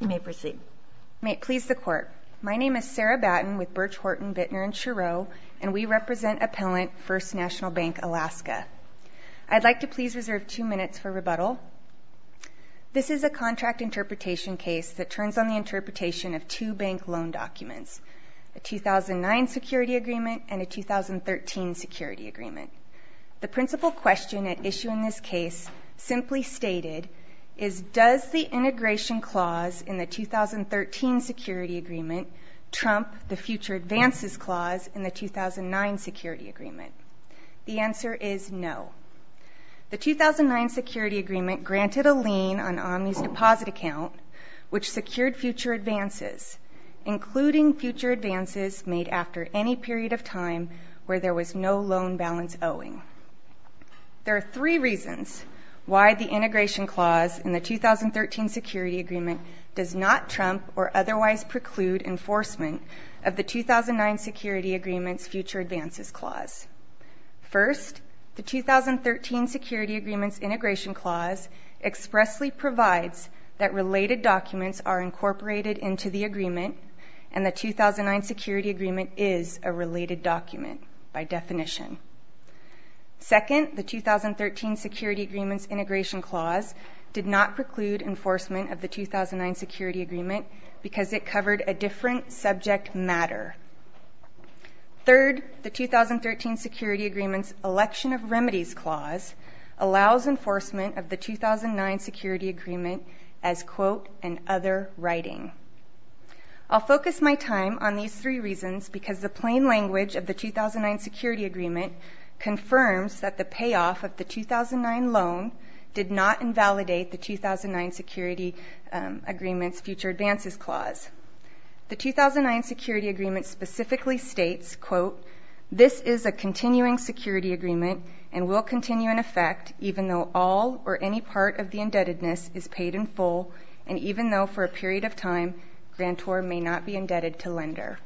You may proceed. May it please the Court. My name is Sarah Batten with Birch, Horton, Bittner & Chereau, and we represent Appellant First National Bank Alaska. I'd like to please reserve two minutes for rebuttal. This is a contract interpretation case that turns on the interpretation of two bank loan documents, a 2009 security agreement and a 2013 security agreement. The principal question at issue in this case simply stated is, does the integration clause in the 2013 security agreement trump the future advances clause in the 2009 security agreement? The answer is no. The 2009 security agreement granted a lien on Omni's deposit account, which secured future advances, including future advances made after any period of time where there was no loan balance owing. There are three reasons why the integration clause in the 2013 security agreement does not trump or otherwise preclude enforcement of the 2009 security agreement's future advances clause. First, the 2013 security agreement's integration clause expressly provides that related documents are incorporated into the agreement and the 2009 security agreement is a related document by definition. Second, the 2013 security agreement's integration clause did not preclude enforcement of the 2009 security agreement because it covered a different subject matter. Third, the 2013 security agreement's election of remedies clause allows enforcement of the 2009 security agreement as, quote, an other writing. I'll focus my time on these three reasons because the plain language of the 2009 security agreement confirms that the payoff of the 2009 loan did not invalidate the 2009 security agreement's future advances clause. This is a continuing security agreement and will continue in effect even though all or any part of the indebtedness is paid in full and even though for a period of time, grantor may not be indebted to lender.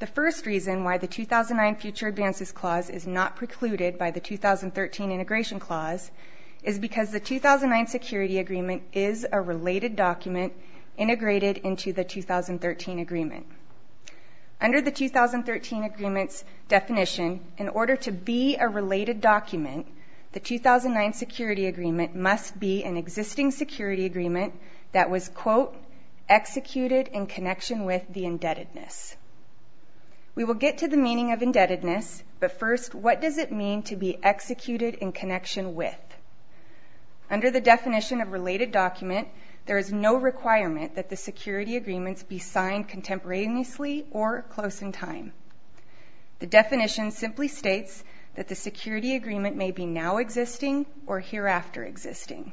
The first reason why the 2009 future advances clause is not precluded by the 2013 integration clause is because the 2009 security agreement is a related document integrated into the 2013 agreement. Under the 2013 agreement's definition, in order to be a related document, the 2009 security agreement must be an existing security agreement that was, quote, executed in connection with the indebtedness. We will get to the meaning of indebtedness, but first, what does it mean to be executed in connection with? Under the definition of related document, there is no requirement that the security agreements be signed contemporaneously or close in time. The definition simply states that the security agreement may be now existing or hereafter existing.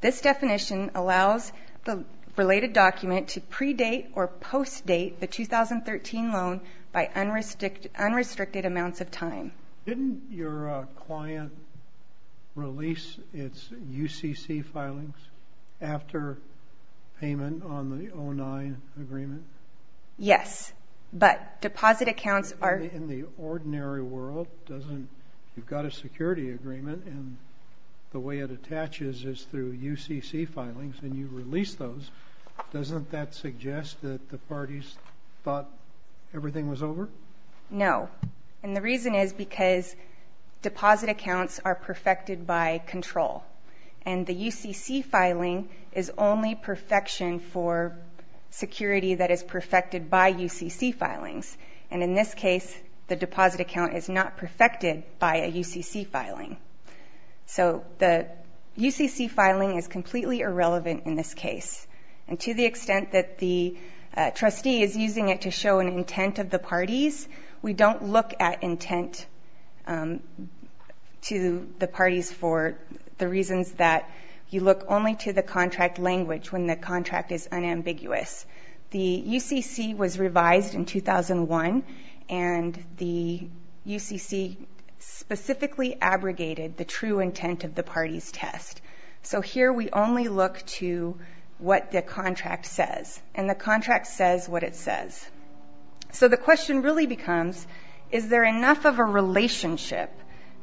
This definition allows the related document to predate or post-date the 2013 loan Didn't your client release its UCC filings after payment on the 2009 agreement? Yes, but deposit accounts are In the ordinary world, you've got a security agreement, and the way it attaches is through UCC filings, and you release those. Doesn't that suggest that the parties thought everything was over? No, and the reason is because deposit accounts are perfected by control, and the UCC filing is only perfection for security that is perfected by UCC filings, and in this case, the deposit account is not perfected by a UCC filing. So the UCC filing is completely irrelevant in this case, and to the extent that the trustee is using it to show an intent of the parties, we don't look at intent to the parties for the reasons that you look only to the contract language when the contract is unambiguous. The UCC was revised in 2001, and the UCC specifically abrogated the true intent of the parties test. So here we only look to what the contract says, and the contract says what it says. So the question really becomes, is there enough of a relationship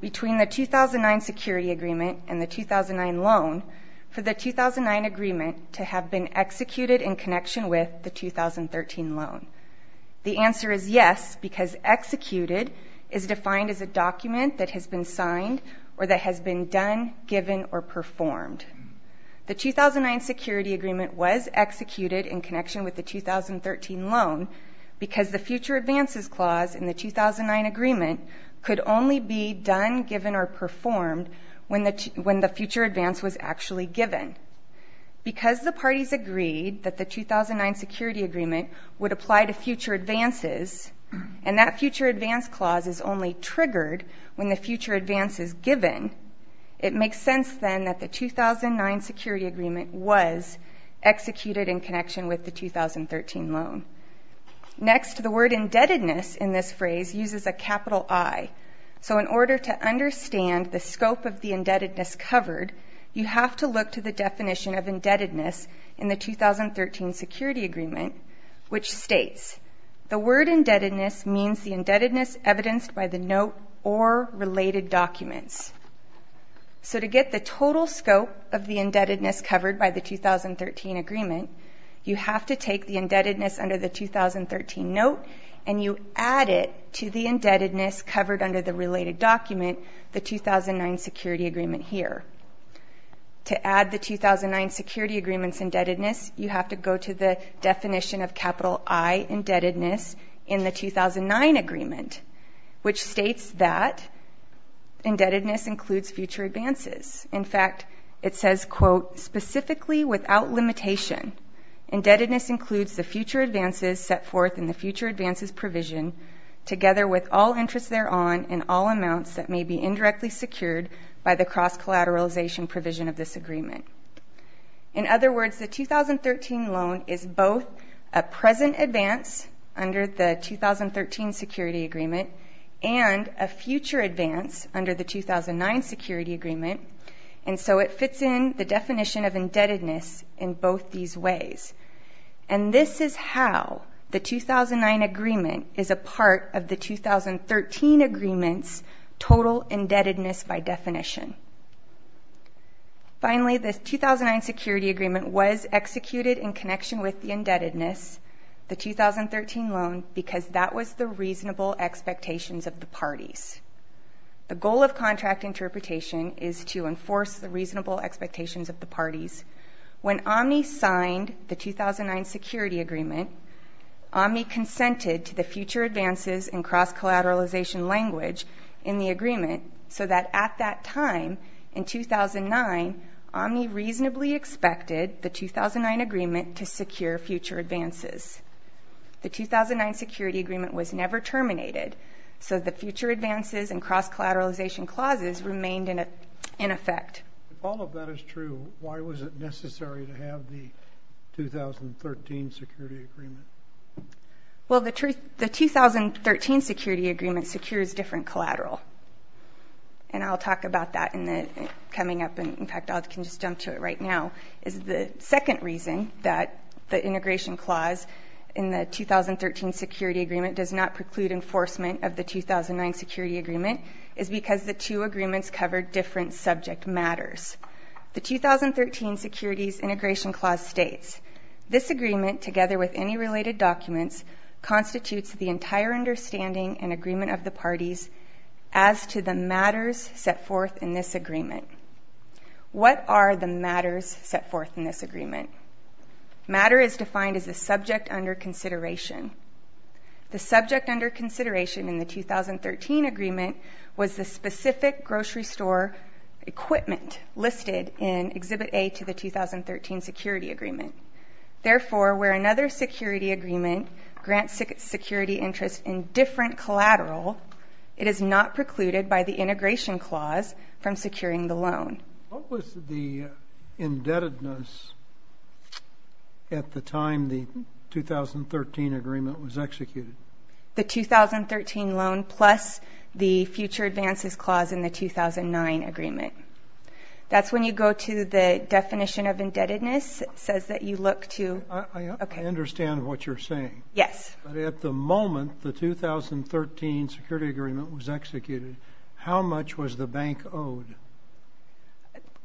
between the 2009 security agreement and the 2009 loan for the 2009 agreement to have been executed in connection with the 2013 loan? The answer is yes, because executed is defined as a document that has been signed or that has been done, given, or performed. The 2009 security agreement was executed in connection with the 2013 loan because the future advances clause in the 2009 agreement could only be done, given, or performed when the future advance was actually given. Because the parties agreed that the 2009 security agreement would apply to future advances, and that future advance clause is only triggered when the future advance is given, it makes sense then that the 2009 security agreement was executed in connection with the 2013 loan. Next, the word indebtedness in this phrase uses a capital I. So in order to understand the scope of the indebtedness covered, you have to look to the definition of indebtedness in the 2013 security agreement, which states, the word indebtedness means the indebtedness evidenced by the note or related documents. So to get the total scope of the indebtedness covered by the 2013 agreement, you have to take the indebtedness under the 2013 note, and you add it to the indebtedness covered under the related document, the 2009 security agreement here. To add the 2009 security agreement's indebtedness, you have to go to the definition of capital I, indebtedness, in the 2009 agreement, which states that indebtedness includes future advances. In fact, it says, quote, specifically without limitation, indebtedness includes the future advances set forth in the future advances provision, together with all interests thereon and all amounts that may be indirectly secured by the cross-collateralization provision of this agreement. In other words, the 2013 loan is both a present advance under the 2013 security agreement and a future advance under the 2009 security agreement, and so it fits in the definition of indebtedness in both these ways. And this is how the 2009 agreement is a part of the 2013 agreement's total indebtedness by definition. Finally, the 2009 security agreement was executed in connection with the indebtedness, the 2013 loan, because that was the reasonable expectations of the parties. The goal of contract interpretation is to enforce the reasonable expectations of the parties. When Omni signed the 2009 security agreement, Omni consented to the future advances and cross-collateralization language in the agreement, so that at that time, in 2009, Omni reasonably expected the 2009 agreement to secure future advances. The 2009 security agreement was never terminated, so the future advances and cross-collateralization clauses remained in effect. If all of that is true, why was it necessary to have the 2013 security agreement? Well, the 2013 security agreement secures different collateral, and I'll talk about that coming up, and in fact, I can just jump to it right now. The second reason that the integration clause in the 2013 security agreement does not preclude enforcement of the 2009 security agreement is because the two agreements covered different subject matters. The 2013 securities integration clause states, this agreement, together with any related documents, constitutes the entire understanding and agreement of the parties as to the matters set forth in this agreement. What are the matters set forth in this agreement? Matter is defined as the subject under consideration. The subject under consideration in the 2013 agreement was the specific grocery store equipment listed in Exhibit A to the 2013 security agreement. Therefore, where another security agreement grants security interest in different collateral, it is not precluded by the integration clause from securing the loan. What was the indebtedness at the time the 2013 agreement was executed? The 2013 loan plus the future advances clause in the 2009 agreement. That's when you go to the definition of indebtedness. It says that you look to... I understand what you're saying. Yes. But at the moment, the 2013 security agreement was executed, how much was the bank owed?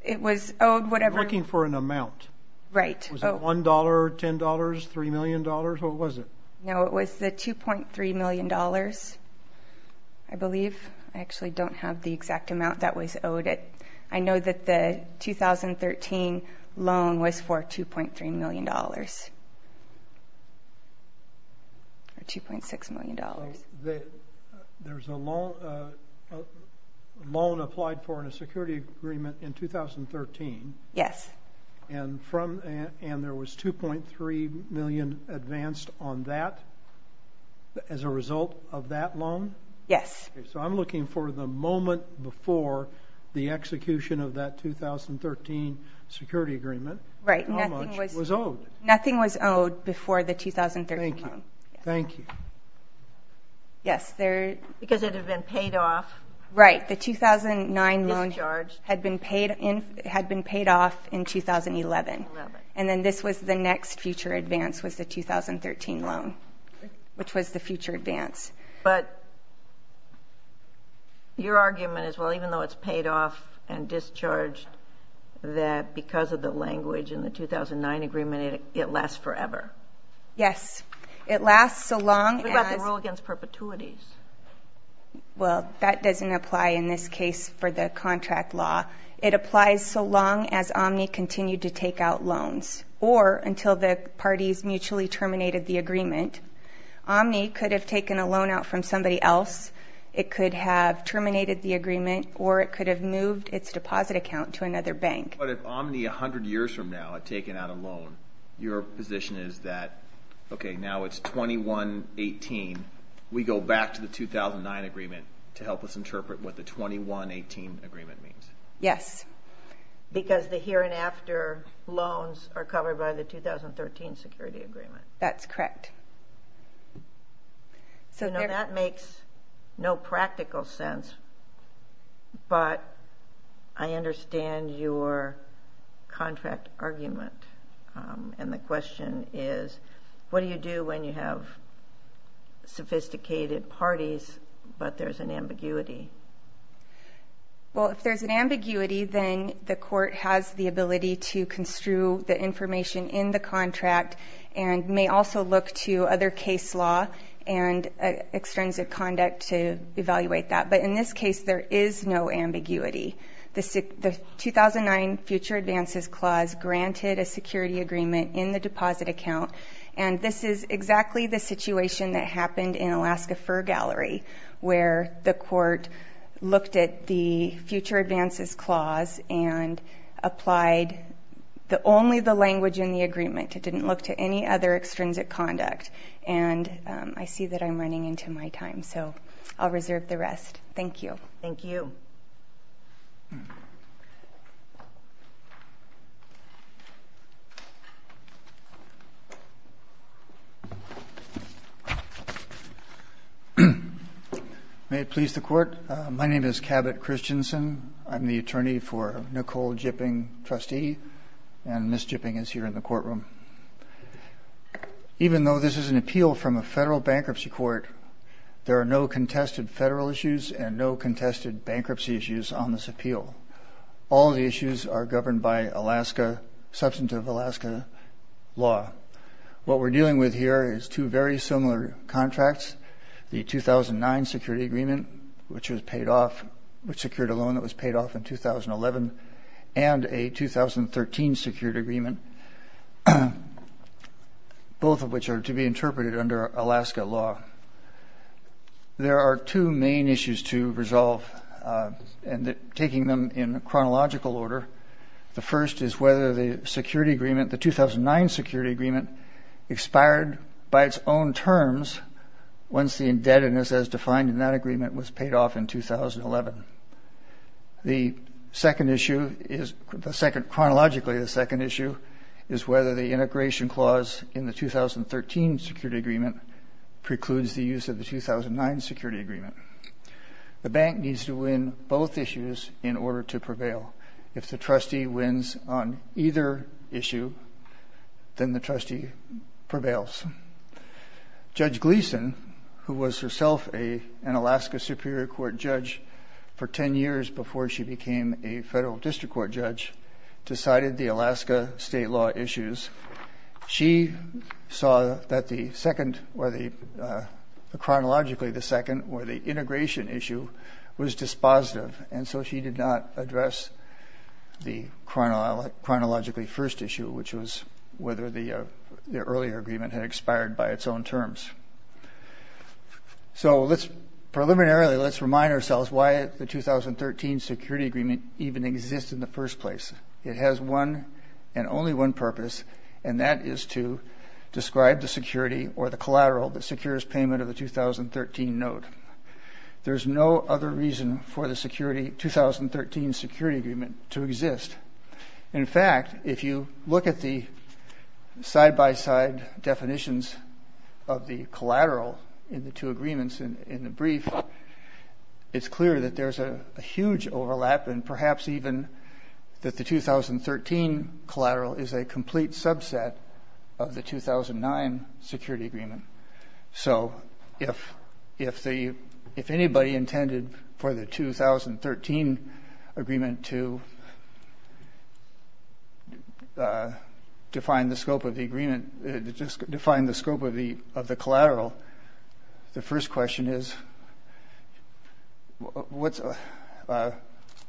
It was owed whatever... You're looking for an amount. Right. Was it $1, $10, $3 million? What was it? No, it was the $2.3 million, I believe. I actually don't have the exact amount that was owed. I know that the 2013 loan was for $2.3 million or $2.6 million. There's a loan applied for in a security agreement in 2013. Yes. And there was $2.3 million advanced on that as a result of that loan? Yes. So I'm looking for the moment before the execution of that 2013 security agreement. Right. How much was owed? Nothing was owed before the 2013 loan. Thank you. Thank you. Yes, there... Because it had been paid off. Right. The 2009 loan had been paid off in 2011. And then this was the next future advance was the 2013 loan, which was the future advance. But your argument is, well, even though it's paid off and discharged, that because of the language in the 2009 agreement, it lasts forever. Yes. It lasts so long as... What about the rule against perpetuities? Well, that doesn't apply in this case for the contract law. It applies so long as Omni continued to take out loans or until the parties mutually terminated the agreement. Omni could have taken a loan out from somebody else. It could have terminated the agreement, or it could have moved its deposit account to another bank. But if Omni 100 years from now had taken out a loan, your position is that, okay, now it's 2118. We go back to the 2009 agreement to help us interpret what the 2118 agreement means. Yes, because the here and after loans are covered by the 2013 security agreement. That's correct. I know that makes no practical sense, but I understand your contract argument, and the question is what do you do when you have sophisticated parties but there's an ambiguity? Well, if there's an ambiguity, then the court has the ability to construe the information in the contract and may also look to other case law and extrinsic conduct to evaluate that. But in this case, there is no ambiguity. The 2009 future advances clause granted a security agreement in the deposit account, and this is exactly the situation that happened in Alaska Fur Gallery where the court looked at the future advances clause and applied only the language in the agreement. It didn't look to any other extrinsic conduct, and I see that I'm running into my time, so I'll reserve the rest. Thank you. Thank you. May it please the Court, my name is Cabot Christensen. I'm the attorney for Nicole Jipping, trustee, and Ms. Jipping is here in the courtroom. Even though this is an appeal from a federal bankruptcy court, there are no contested federal issues and no contested bankruptcy issues on this appeal. All the issues are governed by substantive Alaska law. What we're dealing with here is two very similar contracts, the 2009 security agreement, which was paid off, which secured a loan that was paid off in 2011, and a 2013 security agreement, both of which are to be interpreted under Alaska law. There are two main issues to resolve, and taking them in chronological order, the first is whether the security agreement, the 2009 security agreement, expired by its own terms once the indebtedness as defined in that agreement was paid off in 2011. Chronologically, the second issue is whether the integration clause in the 2013 security agreement precludes the use of the 2009 security agreement. The bank needs to win both issues in order to prevail. If the trustee wins on either issue, then the trustee prevails. Judge Gleason, who was herself an Alaska Superior Court judge for 10 years before she became a federal district court judge, decided the Alaska state law issues. She saw that the second or the chronologically the second or the integration issue was dispositive, and so she did not address the chronologically first issue, which was whether the earlier agreement had expired by its own terms. So let's preliminarily let's remind ourselves why the 2013 security agreement even exists in the first place. It has one and only one purpose, and that is to describe the security or the collateral that secures payment of the 2013 note. There's no other reason for the 2013 security agreement to exist. In fact, if you look at the side-by-side definitions of the collateral in the two agreements in the brief, it's clear that there's a huge overlap and perhaps even that the 2013 collateral is a complete subset of the 2009 security agreement. So if anybody intended for the 2013 agreement to define the scope of the agreement, define the scope of the collateral, the first question is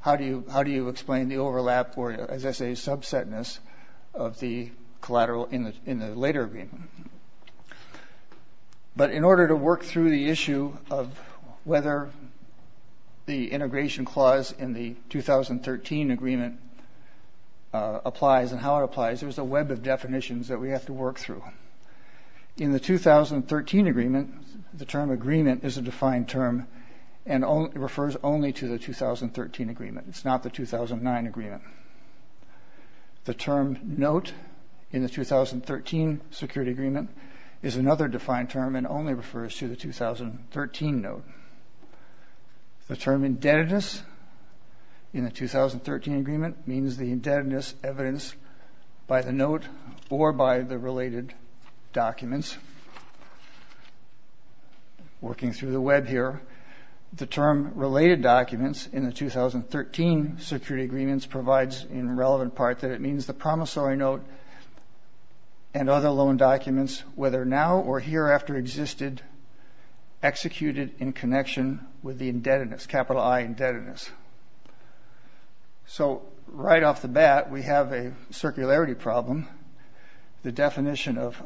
how do you explain the overlap or, as I say, subsetness of the collateral in the later agreement? But in order to work through the issue of whether the integration clause in the 2013 agreement applies and how it applies, there's a web of definitions that we have to work through. In the 2013 agreement, the term agreement is a defined term and refers only to the 2013 agreement. It's not the 2009 agreement. The term note in the 2013 security agreement is another defined term and only refers to the 2013 note. The term indebtedness in the 2013 agreement means the indebtedness evidenced by the note or by the related documents. Working through the web here, the term related documents in the 2013 security agreements provides in relevant part that it means the promissory note and other loan documents whether now or hereafter existed executed in connection with the indebtedness, capital I indebtedness. So right off the bat, we have a circularity problem. The definition of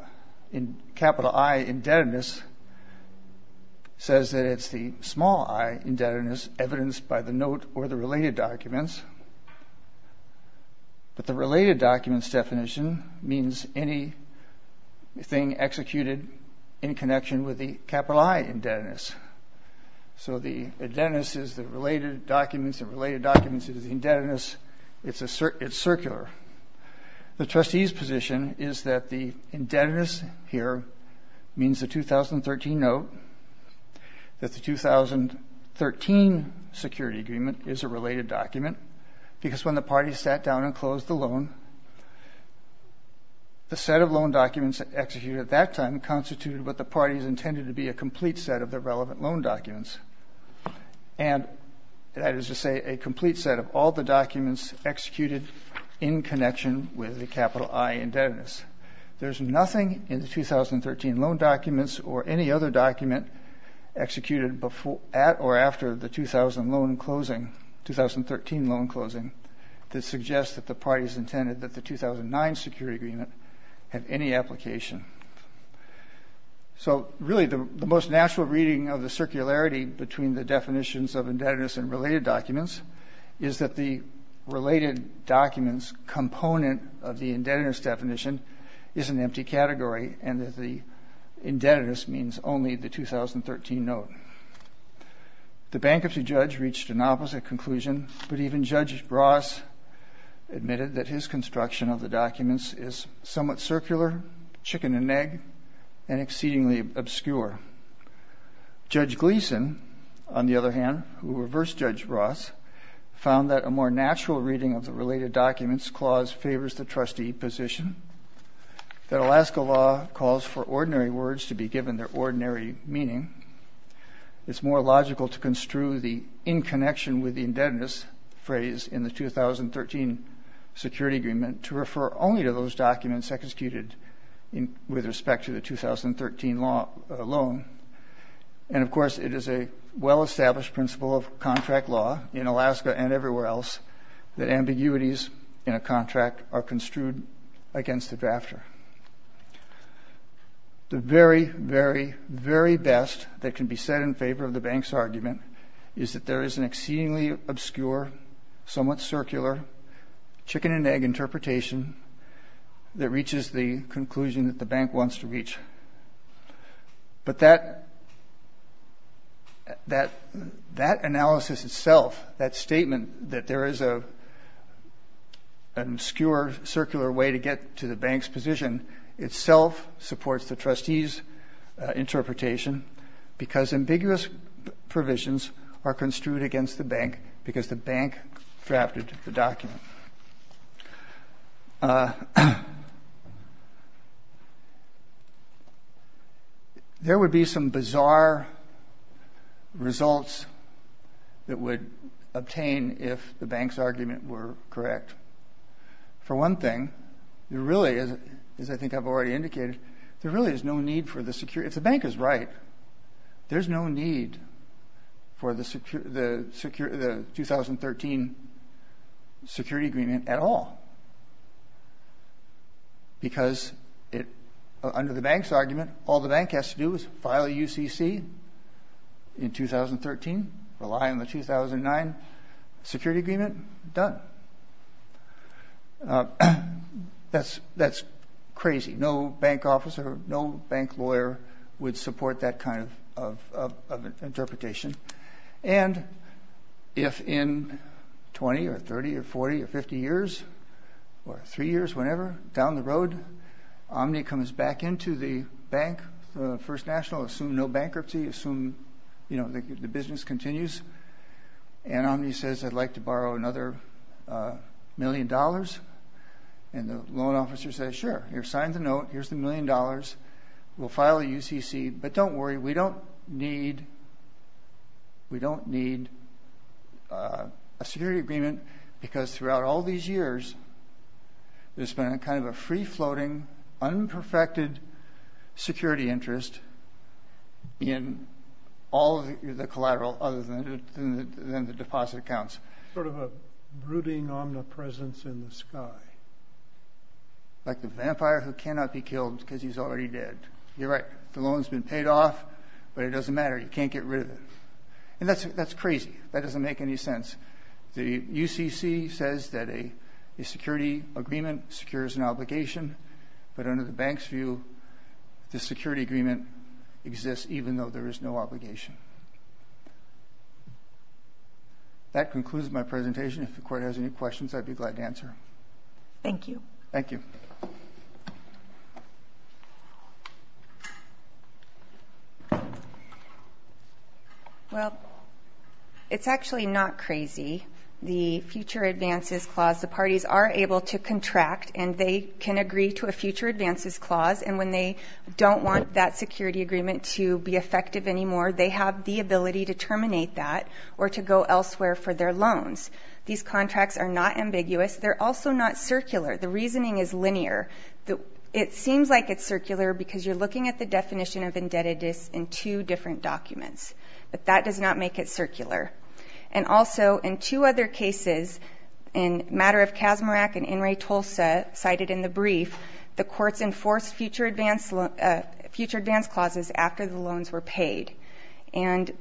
capital I indebtedness says that it's the small I indebtedness evidenced by the note or the related documents. But the related documents definition means anything executed in connection with the capital I indebtedness. So the indebtedness is the related documents and related documents is the indebtedness. It's circular. The trustee's position is that the indebtedness here means the 2013 note, that the 2013 security agreement is a related document because when the party sat down and closed the loan, the set of loan documents executed at that time constituted what the parties intended to be a complete set of the relevant loan documents. And that is to say a complete set of all the documents executed in connection with the capital I indebtedness. There's nothing in the 2013 loan documents or any other document executed at or after the 2013 loan closing that suggests that the parties intended that the 2009 security agreement have any application. So really the most natural reading of the circularity between the definitions of indebtedness and related documents is that the related documents component of the indebtedness definition is an empty category and that the indebtedness means only the 2013 note. The bankruptcy judge reached an opposite conclusion, but even Judge Ross admitted that his construction of the documents is somewhat circular, chicken and egg, and exceedingly obscure. Judge Gleeson, on the other hand, who reversed Judge Ross, found that a more natural reading of the related documents clause favors the trustee position, that Alaska law calls for ordinary words to be given their ordinary meaning. It's more logical to construe the in connection with the indebtedness phrase in the 2013 security agreement to refer only to those documents executed with respect to the 2013 loan. And of course it is a well-established principle of contract law in Alaska and everywhere else that ambiguities in a contract are construed against the drafter. The very, very, very best that can be said in favor of the bank's argument is that there is an exceedingly obscure, somewhat circular, chicken and egg interpretation that reaches the conclusion that the bank wants to reach. But that analysis itself, that statement that there is an obscure, circular way to get to the bank's position itself supports the trustee's interpretation because ambiguous provisions are construed against the bank because the bank drafted the document. There would be some bizarre results that would obtain if the bank's argument were correct. For one thing, there really is, as I think I've already indicated, there really is no need for the security, if the bank is right, there's no need for the 2013 security agreement at all because under the bank's argument all the bank has to do is file a UCC in 2013, rely on the 2009 security agreement, done. That's crazy. No bank officer, no bank lawyer would support that kind of interpretation. And if in 20 or 30 or 40 or 50 years or three years, whenever, down the road, Omni comes back into the bank, the First National, assume no bankruptcy, assume the business continues, and Omni says, I'd like to borrow another million dollars, and the loan officer says, sure, here, sign the note, here's the million dollars, we'll file a UCC, but don't worry, we don't need a security agreement because throughout all these years there's been kind of a free-floating, unperfected security interest in all the collateral other than the deposit accounts. Sort of a brooding Omni presence in the sky. Like the vampire who cannot be killed because he's already dead. You're right, the loan's been paid off, but it doesn't matter, you can't get rid of it. And that's crazy, that doesn't make any sense. The UCC says that a security agreement secures an obligation, but under the bank's view, the security agreement exists even though there is no obligation. That concludes my presentation. If the Court has any questions, I'd be glad to answer. Thank you. Thank you. Well, it's actually not crazy. The future advances clause, the parties are able to contract and they can agree to a future advances clause, and when they don't want that security agreement to be effective anymore, they have the ability to terminate that or to go elsewhere for their loans. These contracts are not ambiguous. They're also not circular. The reasoning is linear. It seems like it's circular because you're looking at the definition of indebtedness in two different documents, but that does not make it circular. And also, in two other cases, in Matter of Kasmirak and In re Tulsa, cited in the brief, the courts enforced future advance clauses after the loans were paid, and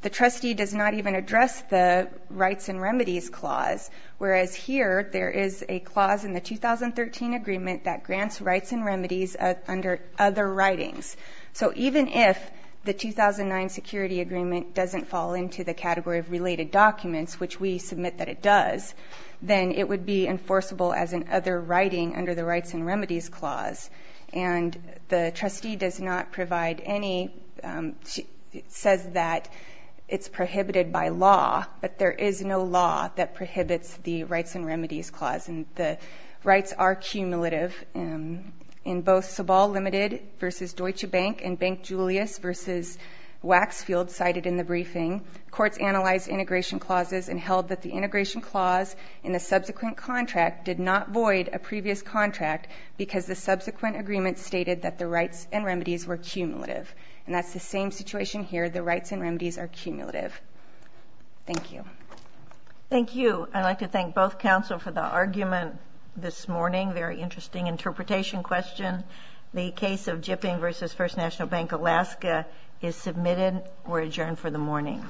the trustee does not even address the rights and remedies clause, whereas here there is a clause in the 2013 agreement that grants rights and remedies under other writings. So even if the 2009 security agreement doesn't fall into the category of related documents, which we submit that it does, then it would be enforceable as an other writing under the rights and remedies clause, and the trustee does not provide any, says that it's prohibited by law, but there is no law that prohibits the rights and remedies clause, and the rights are cumulative. In both Sobol Limited versus Deutsche Bank and Bank Julius versus Waxfield, cited in the briefing, courts analyzed integration clauses and held that the integration clause in the subsequent contract did not void a previous contract because the subsequent agreement stated that the rights and remedies were cumulative. And that's the same situation here. The rights and remedies are cumulative. Thank you. Thank you. I'd like to thank both counsel for the argument this morning. Very interesting interpretation question. The case of Jipping versus First National Bank Alaska is submitted. We're adjourned for the morning.